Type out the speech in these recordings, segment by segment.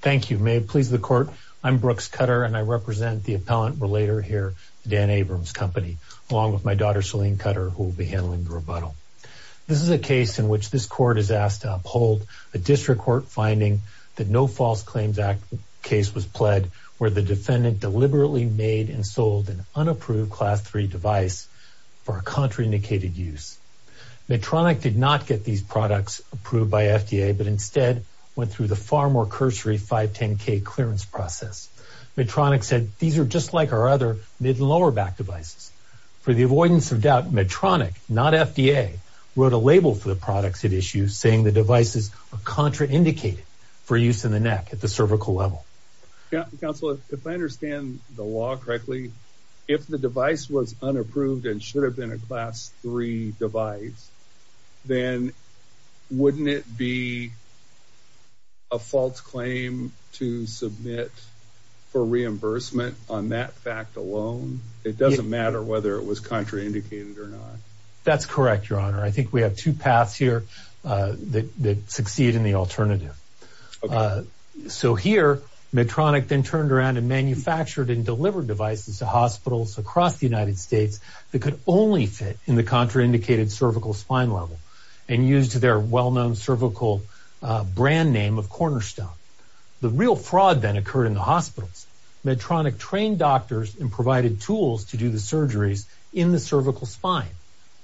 Thank you. May it please the court, I'm Brooks Cutter and I represent the Appellant Relator here at the Dan Abrams Company along with my daughter Selene Cutter who will be handling the rebuttal. This is a case in which this court is asked to uphold a district court finding that no false claims act case was pled where the defendant deliberately made and sold an unapproved class 3 device for a contraindicated use. Medtronic did not get these products approved by FDA but instead went through the far more cursory 510k clearance process. Medtronic said these are just like our other mid and lower back devices. For the avoidance of doubt Medtronic not FDA wrote a label for the products it issues saying the devices are contraindicated for use in the neck at the cervical level. Counselor if I understand the law correctly if the device was unapproved and should have been a class 3 device then wouldn't it be a false claim to submit for reimbursement on that fact alone? It doesn't matter whether it was contraindicated or not. That's correct your honor. I think we have two paths here that succeed in the alternative. So here Medtronic then turned around and manufactured and delivered devices to hospitals across the United States that could only fit in the contraindicated cervical spine level and used their well-known cervical brand name of Cornerstone. The real fraud then occurred in the hospitals. Medtronic trained doctors and provided tools to do the surgeries in the cervical spine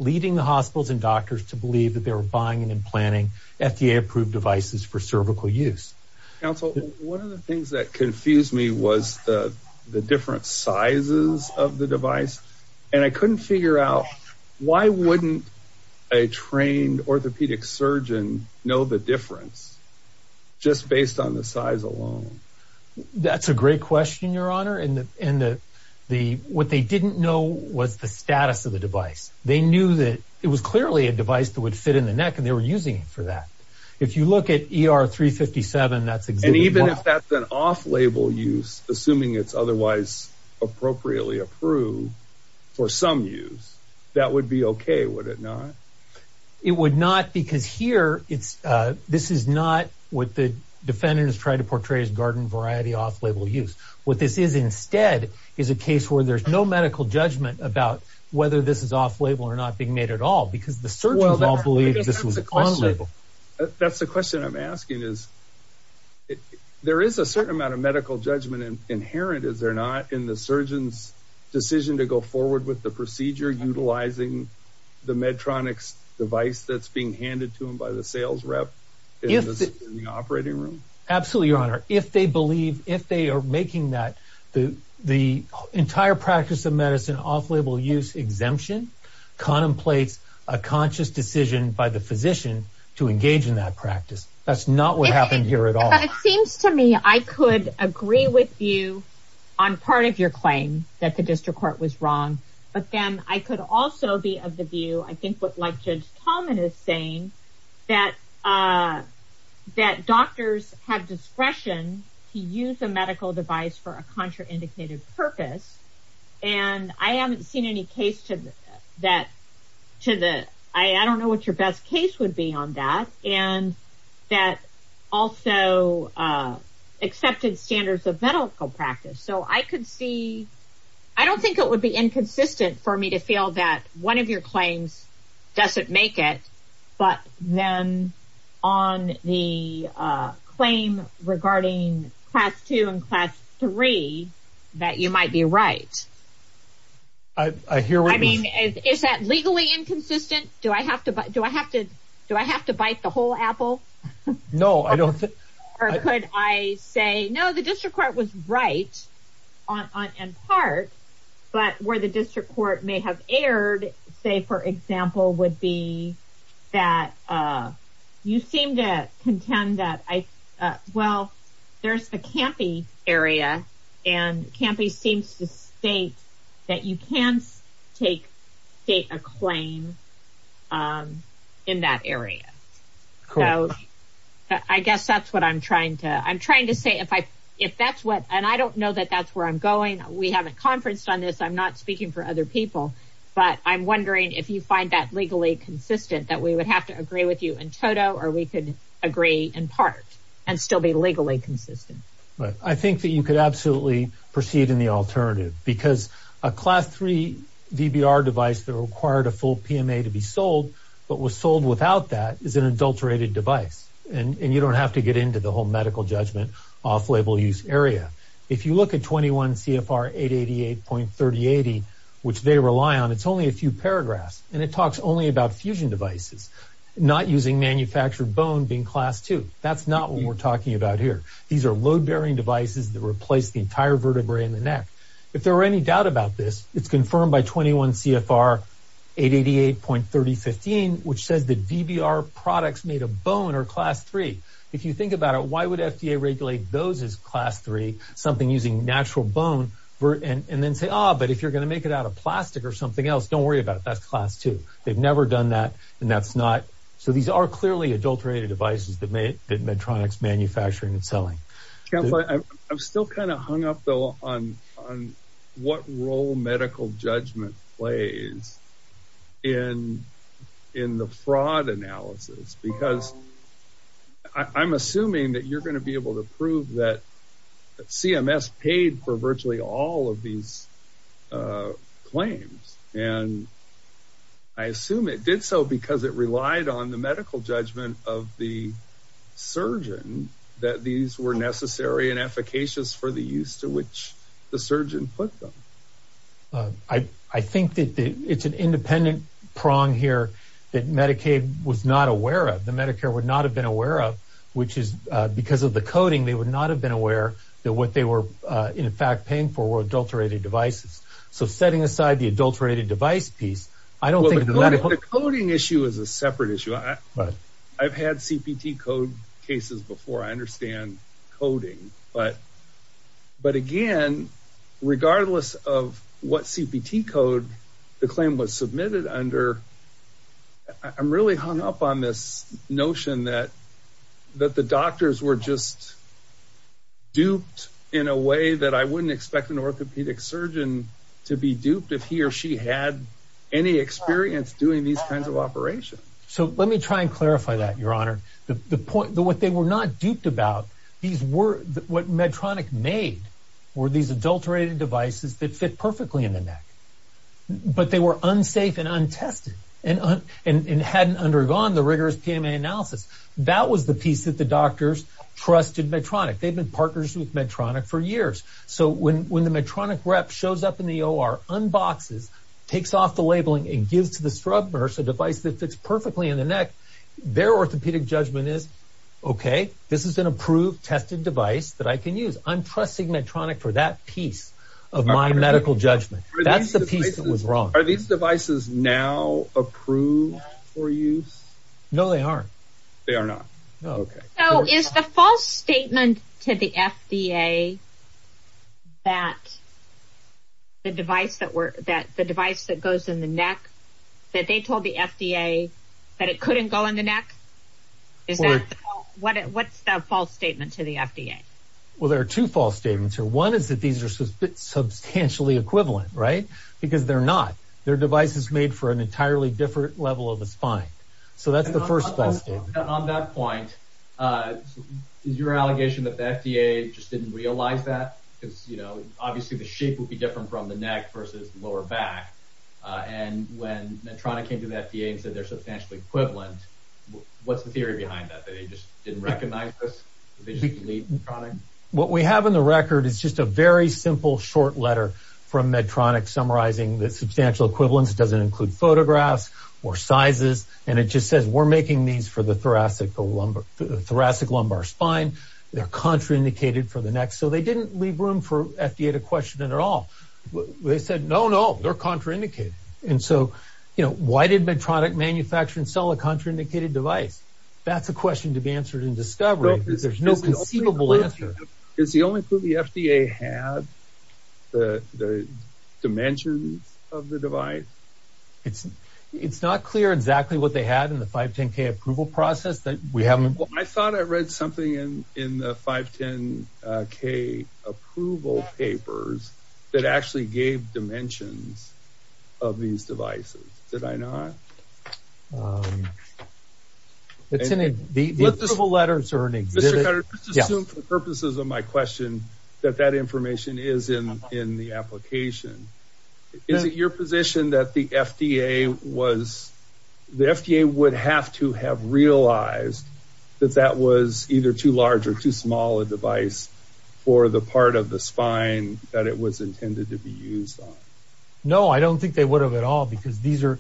leading the hospitals and doctors to believe that they were buying and implanting FDA approved devices for cervical use. Counsel one of the things that confused me was the different sizes of the device and I couldn't figure out why wouldn't a trained orthopedic surgeon know the difference just based on the size alone? That's a great question your honor and the what they didn't know was the status of the device. They knew that it was clearly a device that would fit in the neck and they were using it for that. If you look at ER 357 that's and even if that's an off-label use assuming it's otherwise appropriately approved for some use that would be okay would it not? It would not because here it's uh this is not what the defendant is trying to portray as garden variety off-label use. What this is instead is a case where there's no medical judgment about whether this is off-label or not being made at all because the surgeons all believe this was a question. That's the question I'm asking is there is a certain amount of medical judgment inherent is there not in the surgeon's decision to go forward with the procedure utilizing the Medtronic's device that's being handed to him by the sales rep in the operating room. Absolutely your honor if they believe if they are making that the the entire practice of medicine off-label use exemption contemplates a conscious decision by the physician to engage in that practice. That's not what happened here at all. But it seems to me I could agree with you on part of your claim that the district court was wrong but then I could also be of the view I think what like Judge Tallman is saying that uh that doctors have discretion to use a medical device for a indicated purpose and I haven't seen any case to that to the I don't know what your best case would be on that and that also uh accepted standards of medical practice so I could see I don't think it would be inconsistent for me to feel that one of your claims doesn't make it but then on the uh claim regarding class two and class three that you might be right. I hear what you mean. I mean is that legally inconsistent do I have to do I have to do I have to bite the whole apple? No I don't think or could I say no the district court was right on on in part but where the district court may have erred say for example would be that uh you seem to contend that I uh well there's a campy area and campy seems to state that you can't take state a claim um in that area. So I guess that's what I'm trying to I'm trying to say if I if that's what and I don't know that that's where I'm going we haven't conferenced on this I'm not speaking for other people but I'm wondering if you find that legally consistent that we would have to agree with you in total or we could agree in part and still be legally consistent. Right I think that you could absolutely proceed in the alternative because a class three VBR device that required a full PMA to be sold but was sold without that is an adulterated device and and you don't have to get into the whole medical judgment off label use area. If you look at 21 CFR 888.3080 which they rely on it's only a few paragraphs and it talks only about fusion devices not using manufactured bone being class two that's not what we're talking about here. These are load-bearing devices that replace the entire vertebrae in the neck. If there are any doubt about this it's confirmed by 21 CFR 888.3015 which says that VBR products made of bone are class three. If you think about it why would FDA regulate those as class three something using natural bone and and then say ah but if you're going to make it out of plastic or something else don't worry about it that's class two. They've never done that and that's not so these are clearly adulterated devices that Medtronic's manufacturing and selling. I'm still kind of hung up though on on what role medical judgment plays in in the fraud analysis because I'm assuming that you're going to be able to prove that CMS paid for virtually all of these claims and I assume it did so because it relied on the medical judgment of the surgeon that these were necessary and efficacious for the use to which the surgeon put them. I think that it's an independent prong here that Medicaid was not aware of the Medicare would not have been aware of which is because of the coding they would not have been aware that what were in fact paying for were adulterated devices. So setting aside the adulterated device piece I don't think the coding issue is a separate issue. I've had CPT code cases before I understand coding but but again regardless of what CPT code the claim was submitted under I'm really hung up on this notion that that the doctors were just duped in a way that I wouldn't expect an orthopedic surgeon to be duped if he or she had any experience doing these kinds of operations. So let me try and clarify that your honor the the point what they were not duped about these were what Medtronic made were these adulterated devices that fit perfectly in the neck but they were unsafe and untested and and hadn't undergone the rigorous PMA analysis. That was the piece that the doctors trusted Medtronic. They've been partners with Medtronic for years so when when the Medtronic rep shows up in the OR unboxes takes off the labeling and gives to the scrub nurse a device that fits perfectly in the neck their orthopedic judgment is okay this is an approved tested device that I can use. I'm of my medical judgment that's the piece that was wrong. Are these devices now approved for use? No they aren't. They are not. Okay. So is the false statement to the FDA that the device that were that the device that goes in the neck that they told the FDA that it couldn't go in the neck is that what what's the false statement to the FDA? Well there are two false statements here. One is that these are substantially equivalent right because they're not. Their device is made for an entirely different level of the spine. So that's the first false statement. On that point is your allegation that the FDA just didn't realize that because you know obviously the shape would be different from the neck versus lower back and when Medtronic came to the FDA and said they're substantially equivalent what's the theory behind that they just didn't recognize this? What we have in the record is just a very simple short letter from Medtronic summarizing the substantial equivalence doesn't include photographs or sizes and it just says we're making these for the thoracic lumbar spine. They're contraindicated for the neck so they didn't leave room for FDA to question it at all. They said no no they're contraindicated and so you know why did Medtronic manufacture and sell a contraindicated device? That's a question to answer in discovery. There's no conceivable answer. Is the only clue the FDA had the dimensions of the device? It's not clear exactly what they had in the 510k approval process that we haven't. I thought I read something in in the 510k approval papers that actually gave dimensions of these devices. Did I not? It's in the letters or an exhibit purposes of my question that that information is in in the application. Is it your position that the FDA was the FDA would have to have realized that that was either too large or too small a device for the part of the spine that it was no I don't think they would have at all because these are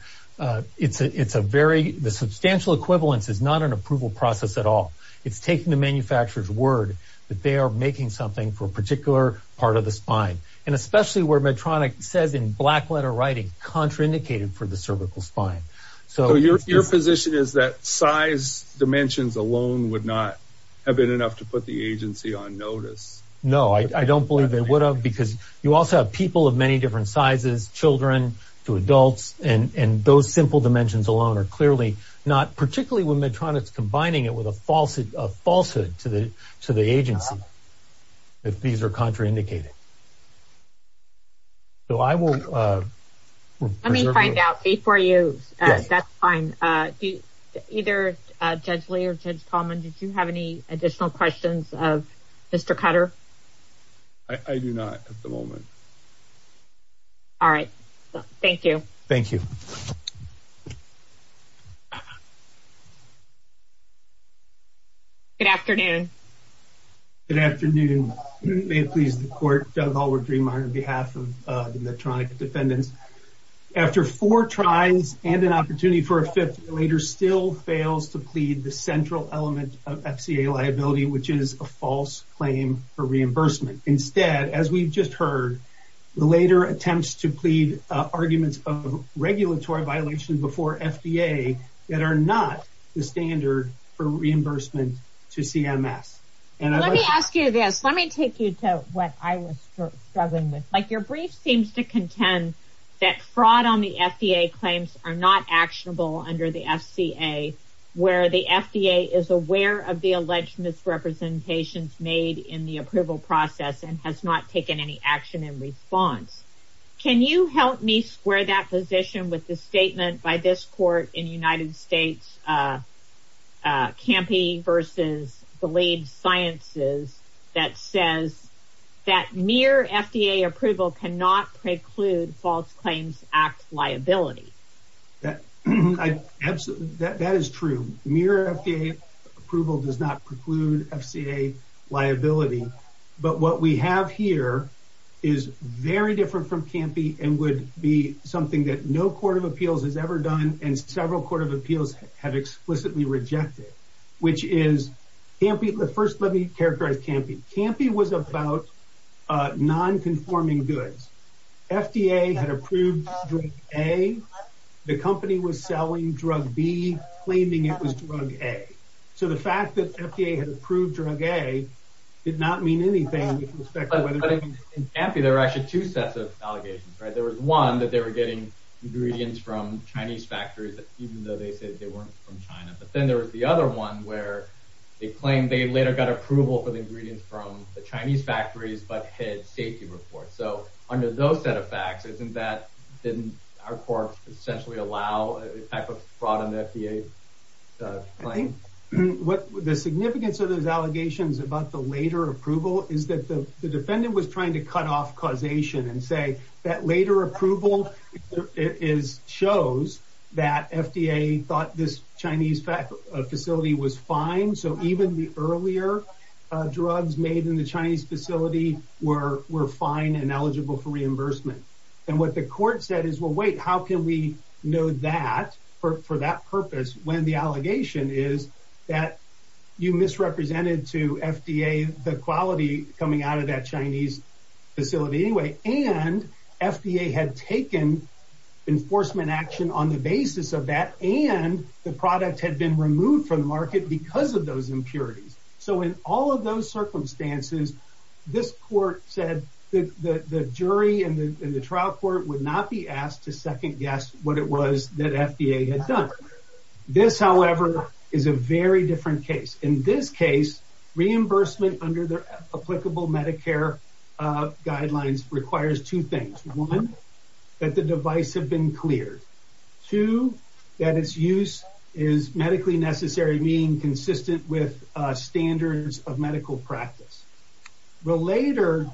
it's a it's a very the substantial equivalence is not an approval process at all. It's taking the manufacturer's word that they are making something for a particular part of the spine and especially where Medtronic says in black letter writing contraindicated for the cervical spine. So your position is that size dimensions alone would not have been enough to put the agency on notice? No I don't believe they would have because you also have people of many different sizes children to adults and and those simple dimensions alone are clearly not particularly when Medtronic's combining it with a false falsehood to the to the agency if these are contraindicated. So I will uh let me find out before you uh that's fine uh do either uh Judge Lee or Judge Coleman did you have any additional questions of Mr. Cutter? I do not at the moment. All right thank you. Thank you. Good afternoon. Good afternoon. May it please the court. Doug Hallward-Dreemeier on behalf of the Medtronic defendants. After four tries and an opportunity for a fifth later still fails to plead the central element of FCA liability which is a false claim for reimbursement. Instead as we've just heard the later attempts to plead arguments of regulatory violations before FDA that are not the standard for reimbursement to CMS. And let me ask you this let me take you to what I was struggling with. Like your brief seems to contend that fraud on the FCA where the FDA is aware of the alleged misrepresentations made in the approval process and has not taken any action in response. Can you help me square that position with the statement by this court in United States uh uh Campy versus the lead sciences that says that mere FDA approval cannot preclude false claims act liability. That I absolutely that that is true. Mere FDA approval does not preclude FCA liability. But what we have here is very different from Campy and would be something that no court of appeals has ever done and several court of appeals have explicitly rejected. Which is Campy the first let me characterize Campy. Campy was about uh non-conforming goods. FDA had approved drug A. The company was selling drug B claiming it was drug A. So the fact that FDA had approved drug A did not mean anything. In Campy there were actually two sets of allegations right. There was one that they were getting ingredients from Chinese factories even though they said they weren't from China. But then there was the other one where they claimed they later got approval for the ingredients from the Chinese factories but hid safety reports. So under those set of facts isn't that didn't our court essentially allow a type of fraud on the FDA claim? What the significance of those allegations about the later approval is that the defendant was thought this Chinese facility was fine. So even the earlier drugs made in the Chinese facility were were fine and eligible for reimbursement. And what the court said is well wait how can we know that for that purpose when the allegation is that you misrepresented to FDA the quality coming out of that Chinese facility anyway. And FDA had taken enforcement action on the basis of that and the product had been removed from the market because of those impurities. So in all of those circumstances this court said that the jury and the trial court would not be asked to second guess what it was that FDA had done. This however is a very different case. In this case reimbursement under the applicable Medicare guidelines requires two things. One that the device have been cleared. Two that its use is medically necessary being consistent with standards of medical practice. Relator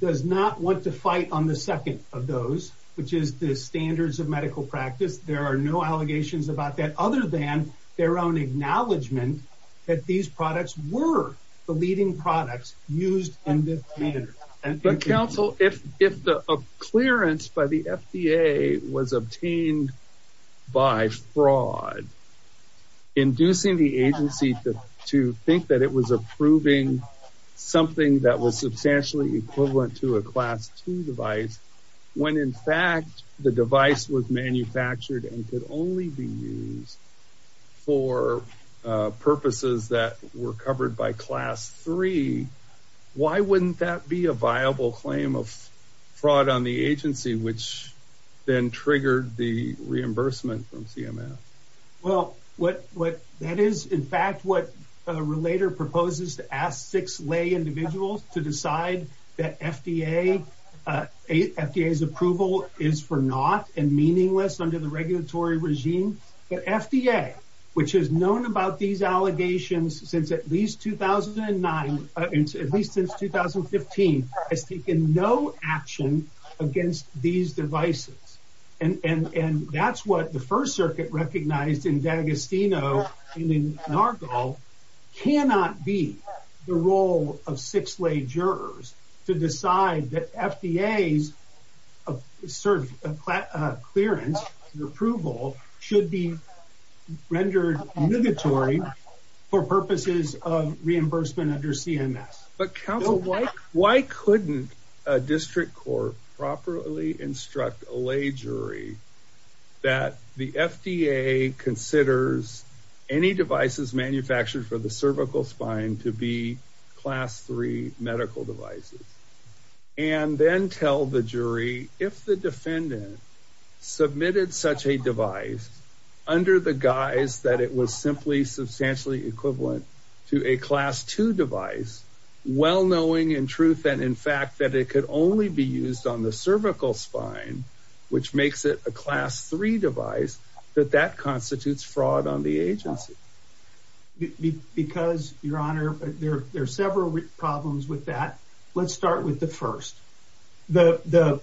does not want to fight on the second of those which is the standards of medical practice. There are no allegations about that other than their own acknowledgement that these products were the leading products used. But counsel if the clearance by the FDA was obtained by fraud inducing the agency to think that it was approving something that was substantially equivalent to a class two device when in fact the device was manufactured and could only be used for purposes that were covered by class three. Why wouldn't that be a viable claim of fraud on the agency which then triggered the reimbursement from CMF? Well what that is in fact what a relator proposes to ask six lay individuals to decide that FDA's approval is for not and meaningless under the regulatory regime. But FDA which has known about these allegations since at least 2009 at least since 2015 has taken no action against these devices. And that's what the first circuit recognized in D'Agostino and in Nargal cannot be the role of six lay jurors to decide that FDA's clearance and approval should be rendered obligatory for purposes of reimbursement under CMS. But counsel why couldn't a district court properly instruct a lay jury that the FDA considers any devices manufactured for the three medical devices and then tell the jury if the defendant submitted such a device under the guise that it was simply substantially equivalent to a class two device well knowing in truth and in fact that it could only be used on the cervical spine which makes it a class three device that that constitutes fraud on the agency. Because your honor there are several problems with that let's start with the first. The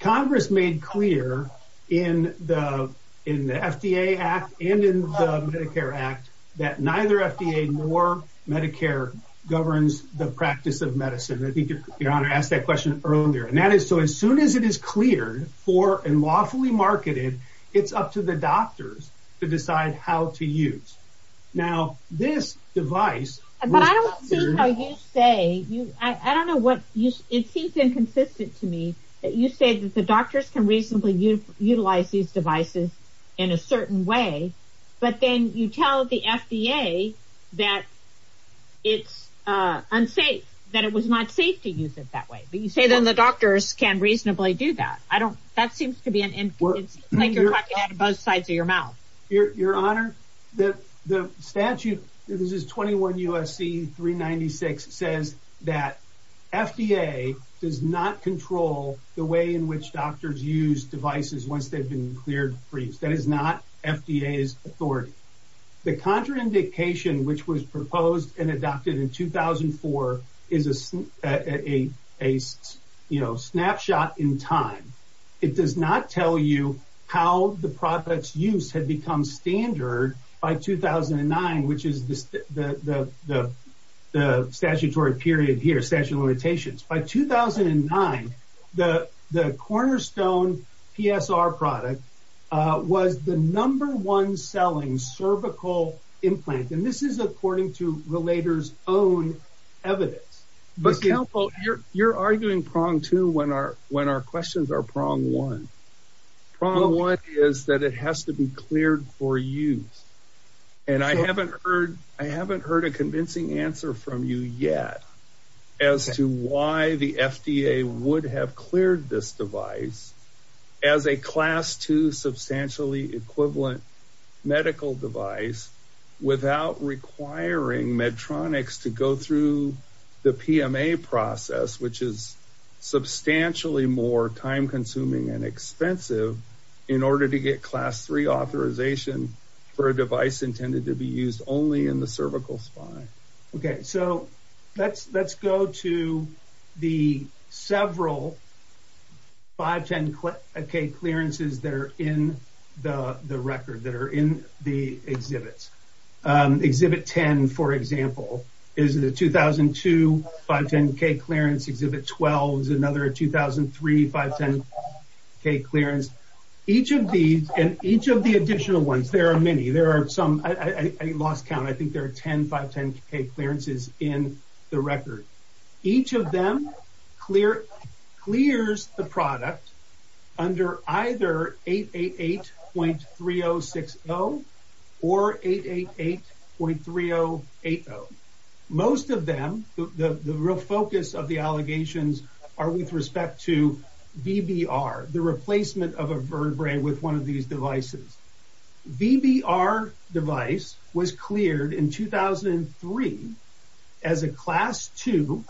congress made clear in the in the FDA act and in the Medicare act that neither FDA nor Medicare governs the practice of medicine. I think your honor asked that question earlier and that is so as soon as it is cleared for and lawfully marketed it's up to the doctors to decide how to use. Now this device. But I don't see how you say you I don't know what you it seems inconsistent to me that you say that the doctors can reasonably utilize these devices in a certain way but then you tell the FDA that it's unsafe that it was not safe to use it that way but you say then the doctors can be an influence like you're talking out of both sides of your mouth. Your honor that the statute this is 21 U.S.C. 396 says that FDA does not control the way in which doctors use devices once they've been cleared for use that is not FDA's authority. The contraindication which was how the product's use had become standard by 2009 which is the statutory period here statute of limitations. By 2009 the cornerstone PSR product was the number one selling cervical implant and this is according to Relator's own evidence. You're arguing prong two when our questions are prong one. Prong one is that it has to be cleared for use and I haven't heard I haven't heard a convincing answer from you yet as to why the FDA would have cleared this device as a class two substantially equivalent medical device without requiring Medtronics to go through the PMA process which is substantially more time consuming and expensive in order to get class three authorization for a device intended to be used only in the cervical spine. Okay so let's go to the several 510k clearances that are in the record that are in the exhibits. Exhibit 10 for example is the 2002 510k clearance. Exhibit 12 is another 2003 510k clearance. Each of these and each of the additional ones there are many there are some I lost count I think there are 10 510k clearances in the record. Each of them clear clears the product under either 888.3060 or 888.3080. Most of them the the real focus of the allegations are with respect to VBR the replacement of a vertebrae with one of these devices. VBR device was cleared in 2003 as a class two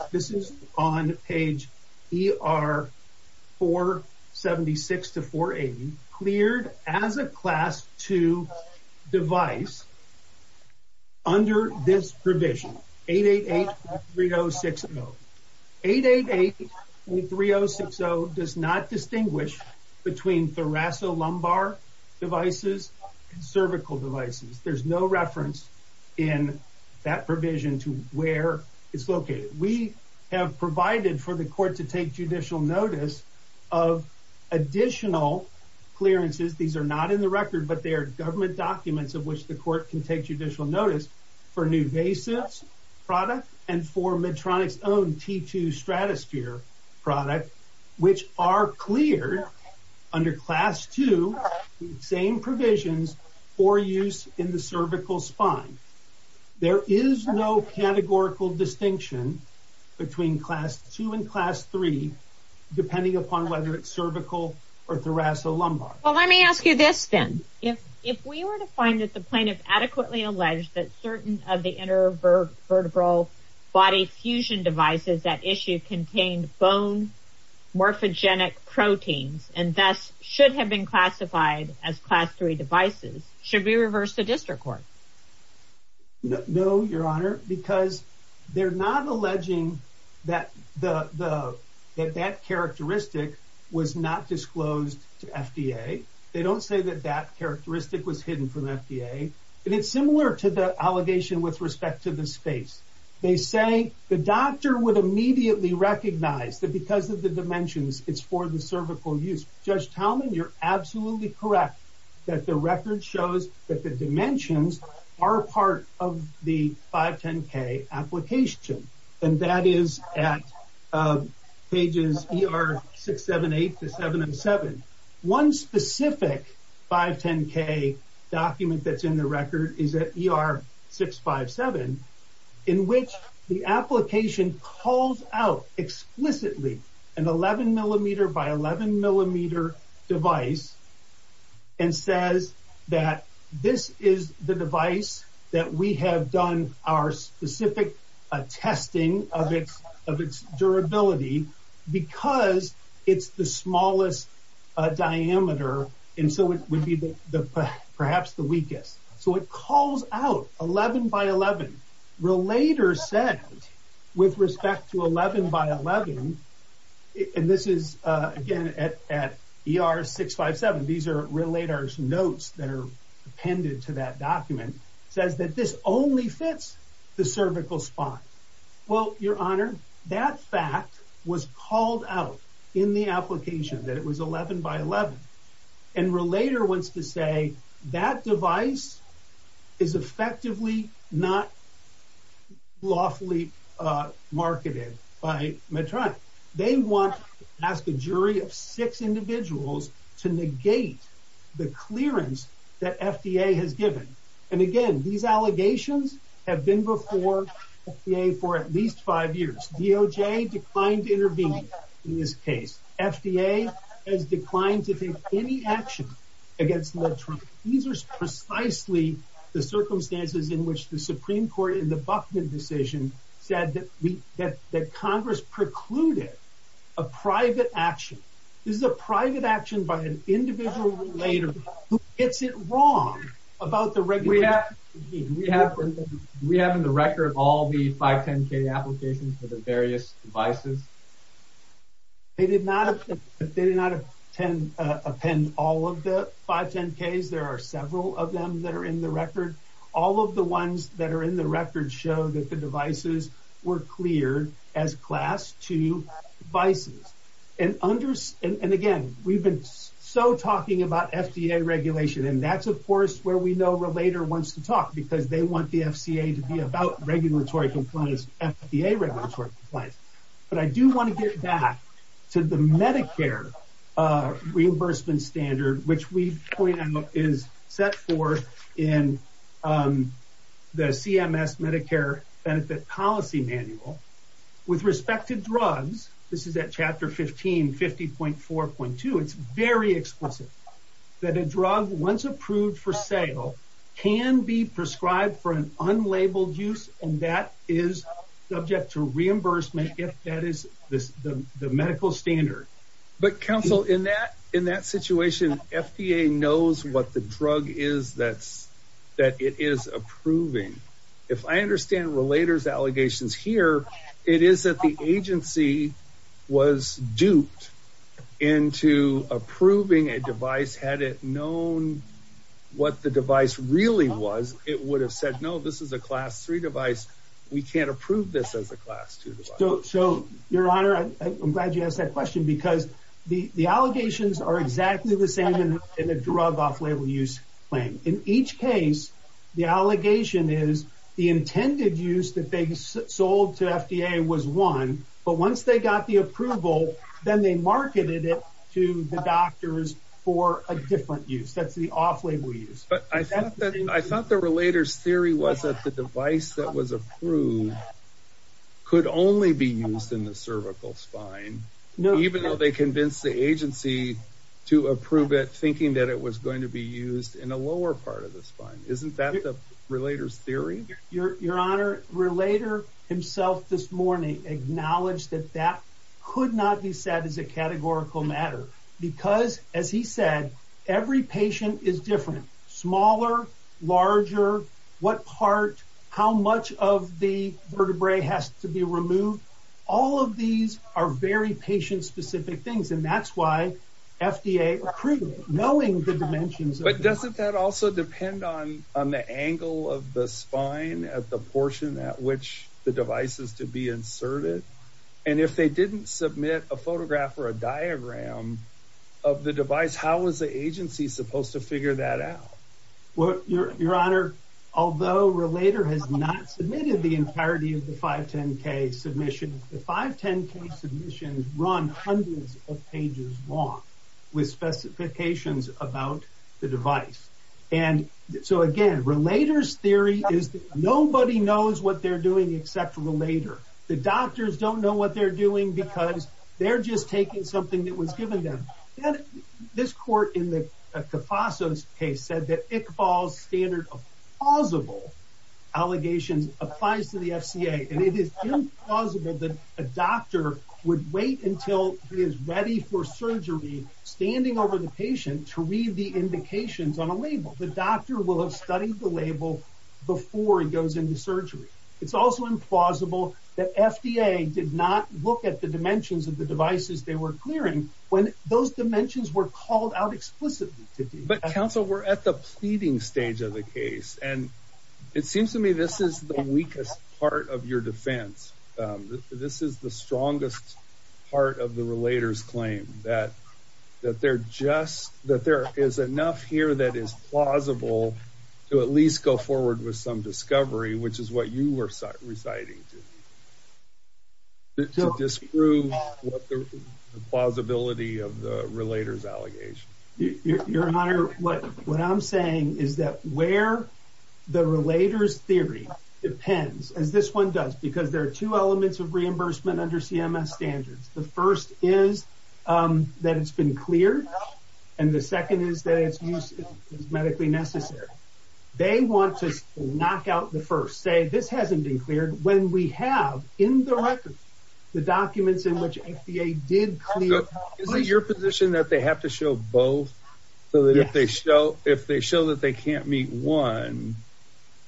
device under this provision 888.3060. 888.3060 does not distinguish between thoracolumbar devices and cervical devices. There's no reference in that provision to where it's located. We have provided for the court to take judicial notice of additional clearances. These are not in the record but they are government documents of which the court can take judicial notice for new basis product and for Medtronic's own t2 stratosphere product which are cleared under class two same provisions for use in the cervical spine. There is no categorical distinction between class two and class three depending upon whether it's cervical or thoracolumbar. Well let me ask you this then if if we were to find that the plaintiff adequately alleged that certain of the inner vertebral body fusion devices that issue contained bone morphogenic proteins and thus should have been classified as class three devices should we reverse the district court? No your honor because they're not alleging that the the that that characteristic was not disclosed to FDA. They don't say that that characteristic was hidden from FDA and it's similar to the allegation with respect to the space. They say the doctor would immediately recognize that because of the dimensions it's for the cervical use. Judge Talman you're absolutely correct that the record shows that the dimensions are part of the 510k application and that is at pages er 678 to 707. One specific 510k document that's in the record is at er 657 in which the application calls out explicitly an 11 millimeter by 11 millimeter device and says that this is the device that we have done our specific testing of its of its durability because it's the smallest diameter and so it would be the perhaps the weakest. So it calls out 11 by 11. Relator said with respect to 11 by 11 and this is again at er 657 these are relators notes that are appended to that document says that this only fits the cervical spine. Well your honor that fact was called out in the application that it was 11 by 11 and relator wants to say that device is effectively not lawfully marketed by Medtron. They want to ask a jury of six individuals to negate the clearance that FDA has given and again these allegations have been before FDA for at least five years. DOJ declined to intervene in this case. FDA has declined to take any action against Medtron. These are precisely the circumstances in which the Supreme Court in an individual relator who gets it wrong about the regulation. We have in the record all the 510k applications for the various devices? They did not append all of the 510ks. There are several of them that are in the record. All of the ones that are in the record show that the devices were cleared as class 2 devices and again we've been so talking about FDA regulation and that's of course where we know relator wants to talk because they want the FCA to be about regulatory compliance FDA regulatory compliance. But I do want to get back to the Medicare reimbursement standard which we point out is set forth in the CMS Medicare benefit policy manual with respect to drugs. This is at chapter 15 50.4.2. It's very explicit that a drug once approved for sale can be prescribed for an unlabeled use and that is subject to reimbursement if that is the medical standard. But counsel in that in that situation FDA knows what the drug is that's that it is approving. If I understand relators allegations here it is that the agency was duped into approving a device had it known what the device really was it would have said no this is class 3 device we can't approve this as a class 2 device. So your honor I'm glad you asked that question because the the allegations are exactly the same in a drug off-label use claim. In each case the allegation is the intended use that they sold to FDA was one but once they got the approval then they marketed it to the doctors for a different use that's the off-label use. But I thought the relators theory was that the device that was approved could only be used in the cervical spine even though they convinced the agency to approve it thinking that it was going to be used in a lower part of the spine. Isn't that the relators theory? Your honor relator himself this morning acknowledged that that could not be said as a categorical matter because as he Smaller, larger, what part, how much of the vertebrae has to be removed all of these are very patient-specific things and that's why FDA approved it knowing the dimensions. But doesn't that also depend on on the angle of the spine at the portion at which the device is to be inserted and if they didn't submit a photograph or a diagram of the device how is the agency supposed to figure that out? Well your honor although relator has not submitted the entirety of the 510k submission the 510k submissions run hundreds of pages long with specifications about the device and so again relators theory is that nobody knows what they're doing except for the later. The doctors don't know what they're doing because they're just taking something that was given them and this court in the Cofasso's case said that Iqbal's standard of plausible allegations applies to the FCA and it is implausible that a doctor would wait until he is ready for surgery standing over the patient to read the indications on a label. The doctor will have studied the label before he goes into surgery. It's also implausible that FDA did not look at the dimensions of the dimensions were called out explicitly. But counsel we're at the pleading stage of the case and it seems to me this is the weakest part of your defense. This is the strongest part of the relator's claim that that there just that there is enough here that is plausible to at least go forward with some discovery which is what you were reciting to me to disprove what the plausibility of the relator's allegation. Your honor what what I'm saying is that where the relator's theory depends as this one does because there are two elements of reimbursement under CMS standards. The first is that it's been cleared and the second is that it's used as medically necessary. They want to knock out the first say this hasn't been cleared when we have in the record the documents in which FDA did clear your position that they have to show both so that if they show if they show that they can't meet one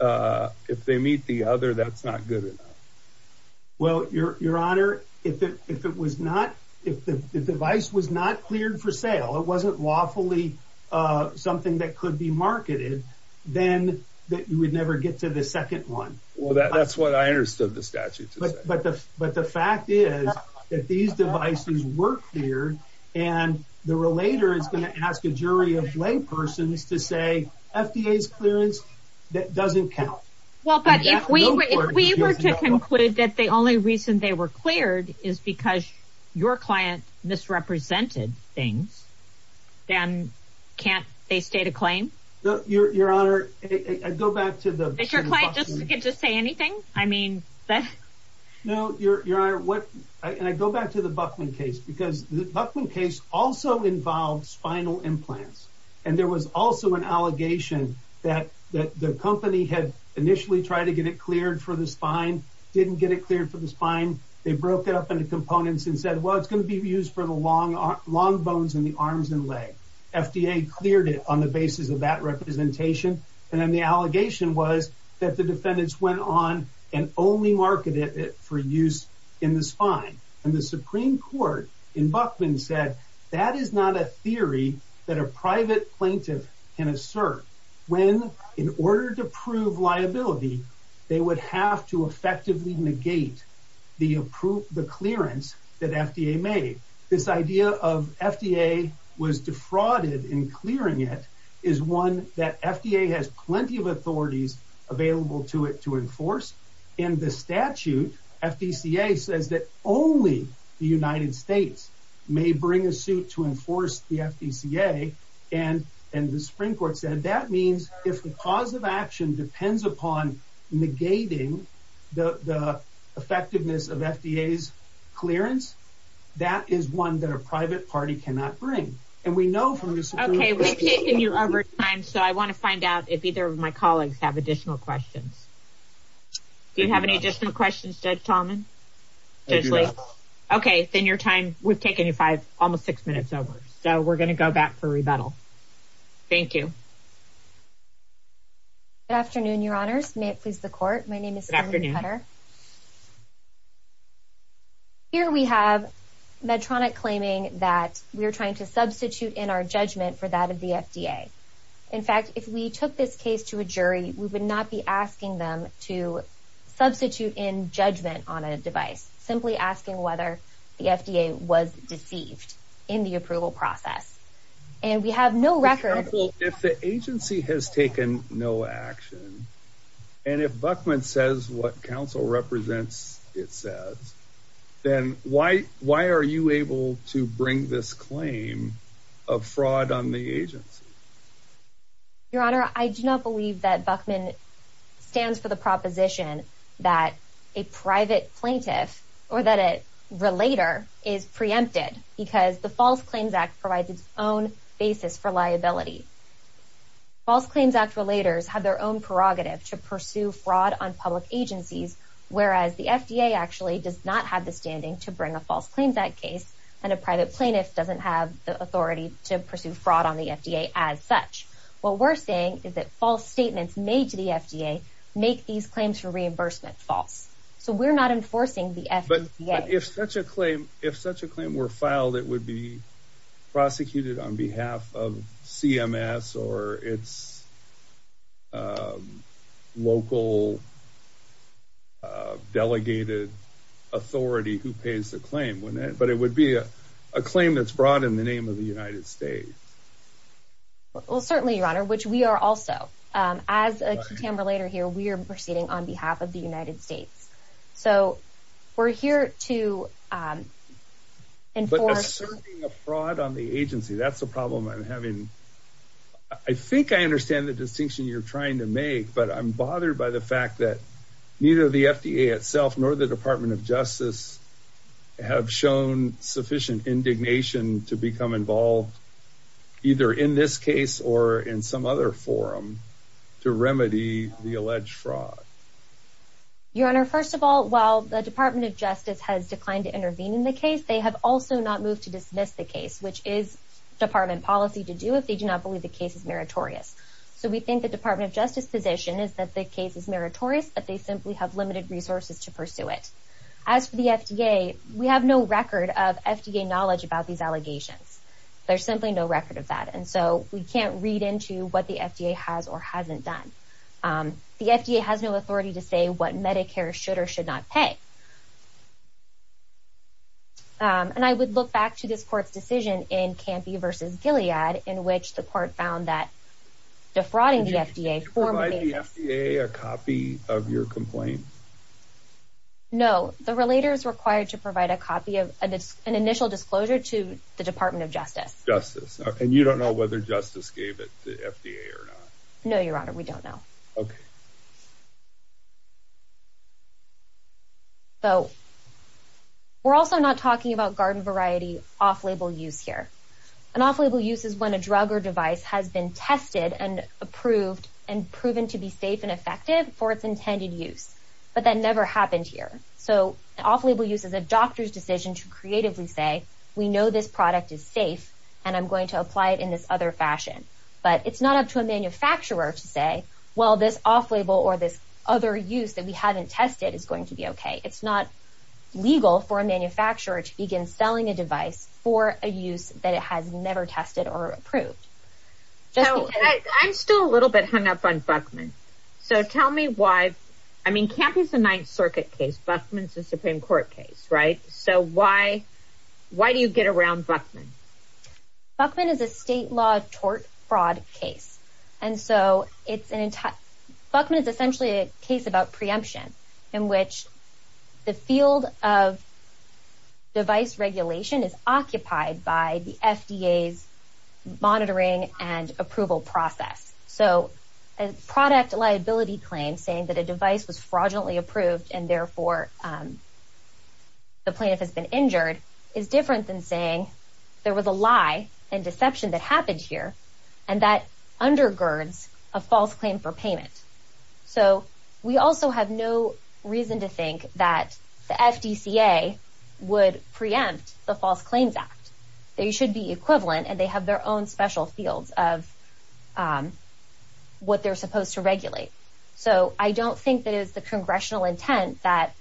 uh if they meet the other that's not good enough. Well your your honor if it if it was not if the device was not cleared for sale it wasn't lawfully uh something that could be marketed then that you would never get to the second one. Well that's what I understood the statute to say. But the but the fact is that these devices were cleared and the relator is going to ask a jury of laypersons to say FDA's clearance that doesn't count. Well but if we if we were to conclude that the only reason they were cleared is because your client misrepresented things then can't they state a claim? Your your honor I go back to the can just say anything I mean. No your your honor what I go back to the Buckman case because the Buckman case also involved spinal implants and there was also an allegation that that the company had initially tried to get it cleared for the spine didn't get it cleared for the spine they broke it up into components and said well it's going to be used for the long long bones in the that the defendants went on and only marketed it for use in the spine and the supreme court in Buckman said that is not a theory that a private plaintiff can assert when in order to prove liability they would have to effectively negate the approved the clearance that FDA made this idea of FDA was defrauded in clearing it is one that FDA has plenty of authorities available to it to enforce and the statute FDCA says that only the United States may bring a suit to enforce the FDCA and and the Supreme Court said that means if the cause of action depends upon negating the the effectiveness of FDA's clearance that is one that a private party cannot bring and we know from this okay we've taken your overtime so I want to find out if either of my colleagues have additional questions do you have any additional questions Judge Tallman okay then your time we've taken you five almost six minutes over so we're going to go back for rebuttal thank you good afternoon your honors may it please the court my name is Sam Cutter here we have Medtronic claiming that we're trying to substitute in our judgment for that of the FDA in fact if we took this case to a jury we would not be asking them to substitute in judgment on a device simply asking whether the FDA was deceived in the approval process and we have no record if the agency has taken no action and if Buckman says what council represents it says then why why are you able to bring this claim of fraud on the agency your honor I do not believe that Buckman stands for the proposition that a private plaintiff or that a relator is preempted because the false claims act provides its own basis for liability false claims act relators have their own prerogative to pursue fraud on public agencies whereas the FDA actually does not have the standing to bring a false claims act case and a private plaintiff doesn't have the authority to pursue fraud on the FDA as such what we're saying is that false statements made to the FDA make these claims for reimbursement false so we're not enforcing the FDA if such a that would be prosecuted on behalf of CMS or its local delegated authority who pays the claim when it but it would be a claim that's brought in the name of the United States well certainly your honor which we are also as a camera later here we are proceeding on behalf of the United States so we're here to enforce fraud on the agency that's the problem I'm having I think I understand the distinction you're trying to make but I'm bothered by the fact that neither the FDA itself nor the Department of Justice have shown sufficient indignation to become involved either in this case or in some other forum to remedy the alleged fraud your honor first of all while the Department of Justice has declined to intervene in the case they have also not moved to dismiss the case which is department policy to do if they do not believe the case is meritorious so we think the Department of Justice position is that the case is meritorious but they simply have limited resources to pursue it as for the FDA we have no record of FDA knowledge about these allegations there's simply no record of that and so we can't read into what the FDA has or hasn't done the FDA has no authority to say what Medicare should or should not pay and I would look back to this court's decision in Campy versus Gilead in which the court found that defrauding the FDA a copy of your complaint no the relator is required to provide a copy of an initial disclosure to the Department of Justice justice and you don't know whether justice gave it to FDA or not no your honor we don't know okay so we're also not talking about garden variety off-label use here an off-label use is when a drug or device has been tested and approved and proven to be safe and effective for its intended use but that never happened here so off-label use is a doctor's decision to creatively say we know this product is safe and I'm going to apply it in this other fashion but it's not up to a manufacturer to say well this off-label or this other use that we haven't tested is going to be okay it's not legal for a manufacturer to begin selling a device for a use that it has never tested or approved so I'm still a little bit hung up on Buckman so tell me why I mean Campy's the Ninth Circuit case Buckman's the Supreme Court case right so why why do you get around Buckman Buckman is a state law tort fraud case and so it's an entire Buckman is essentially case about preemption in which the field of device regulation is occupied by the FDA's monitoring and approval process so a product liability claim saying that a device was fraudulently approved and therefore the plaintiff has been injured is different than saying there was a lie and deception that happened here and that undergirds a false claim for payment so we also have no reason to think that the FDCA would preempt the False Claims Act they should be equivalent and they have their own special fields of what they're supposed to regulate so I don't think that is the congressional intent that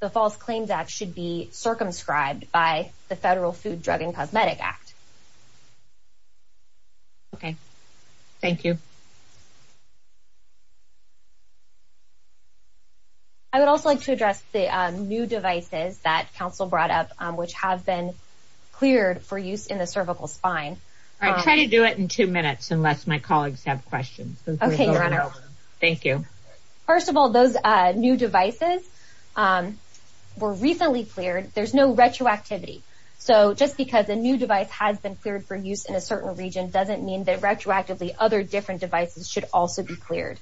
the False Claims Act should be circumscribed by the FDA. I would also like to address the new devices that council brought up which have been cleared for use in the cervical spine I try to do it in two minutes unless my colleagues have questions okay your honor thank you first of all those uh new devices um were recently cleared there's no retroactivity so just because a new device has been cleared for use in a certain region doesn't mean that retroactively other different devices should also be cleared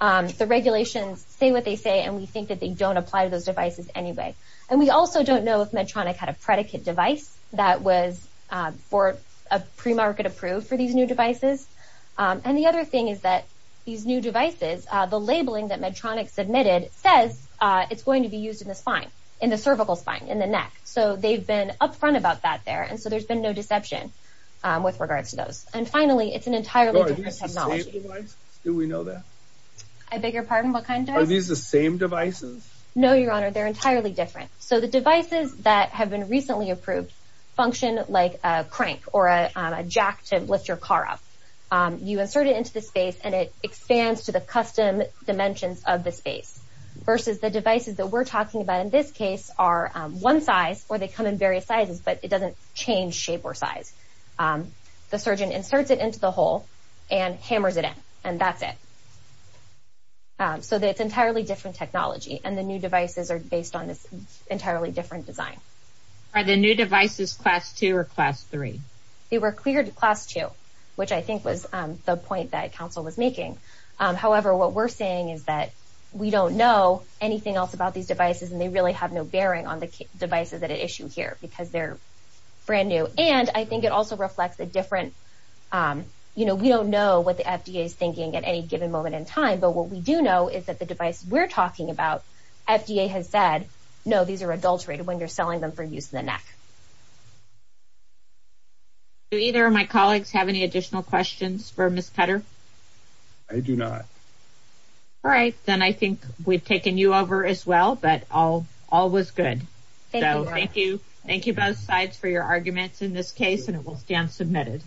the regulations say what they say and we think that they don't apply to those devices anyway and we also don't know if Medtronic had a predicate device that was for a pre-market approved for these new devices and the other thing is that these new devices uh the labeling that Medtronic submitted says uh it's going to be used in the spine in the cervical spine in the neck so they've been up front about that there and so there's been no deception um with regards to those and finally it's an entirely different technology do we know that I beg your pardon what kind are these the same devices no your honor they're entirely different so the devices that have been recently approved function like a crank or a jack to lift your car up um you insert it into the space and it expands to the custom dimensions of the space versus the devices that we're talking about in this case are one size or they come in various sizes but it doesn't change shape or size um the surgeon inserts it into the hole and hammers it in and that's it um so that's entirely different technology and the new devices are based on this entirely different design are the new devices class two or class three they were cleared to class two which I think was um the point that council was making um however what we're saying is that we don't know anything else about these devices and they really have no bearing on the devices that are issued here because they're brand new and I think it also reflects a different um you know we don't know what the FDA is thinking at any given moment in time but what we do know is that the device we're talking about FDA has said no these are adulterated when you're selling them for use in the neck do either of my colleagues have any additional questions for Ms. Cutter I do not all right then I think we've taken you over as well but all all was good so thank you thank you both sides for your arguments in this case and it will stand submitted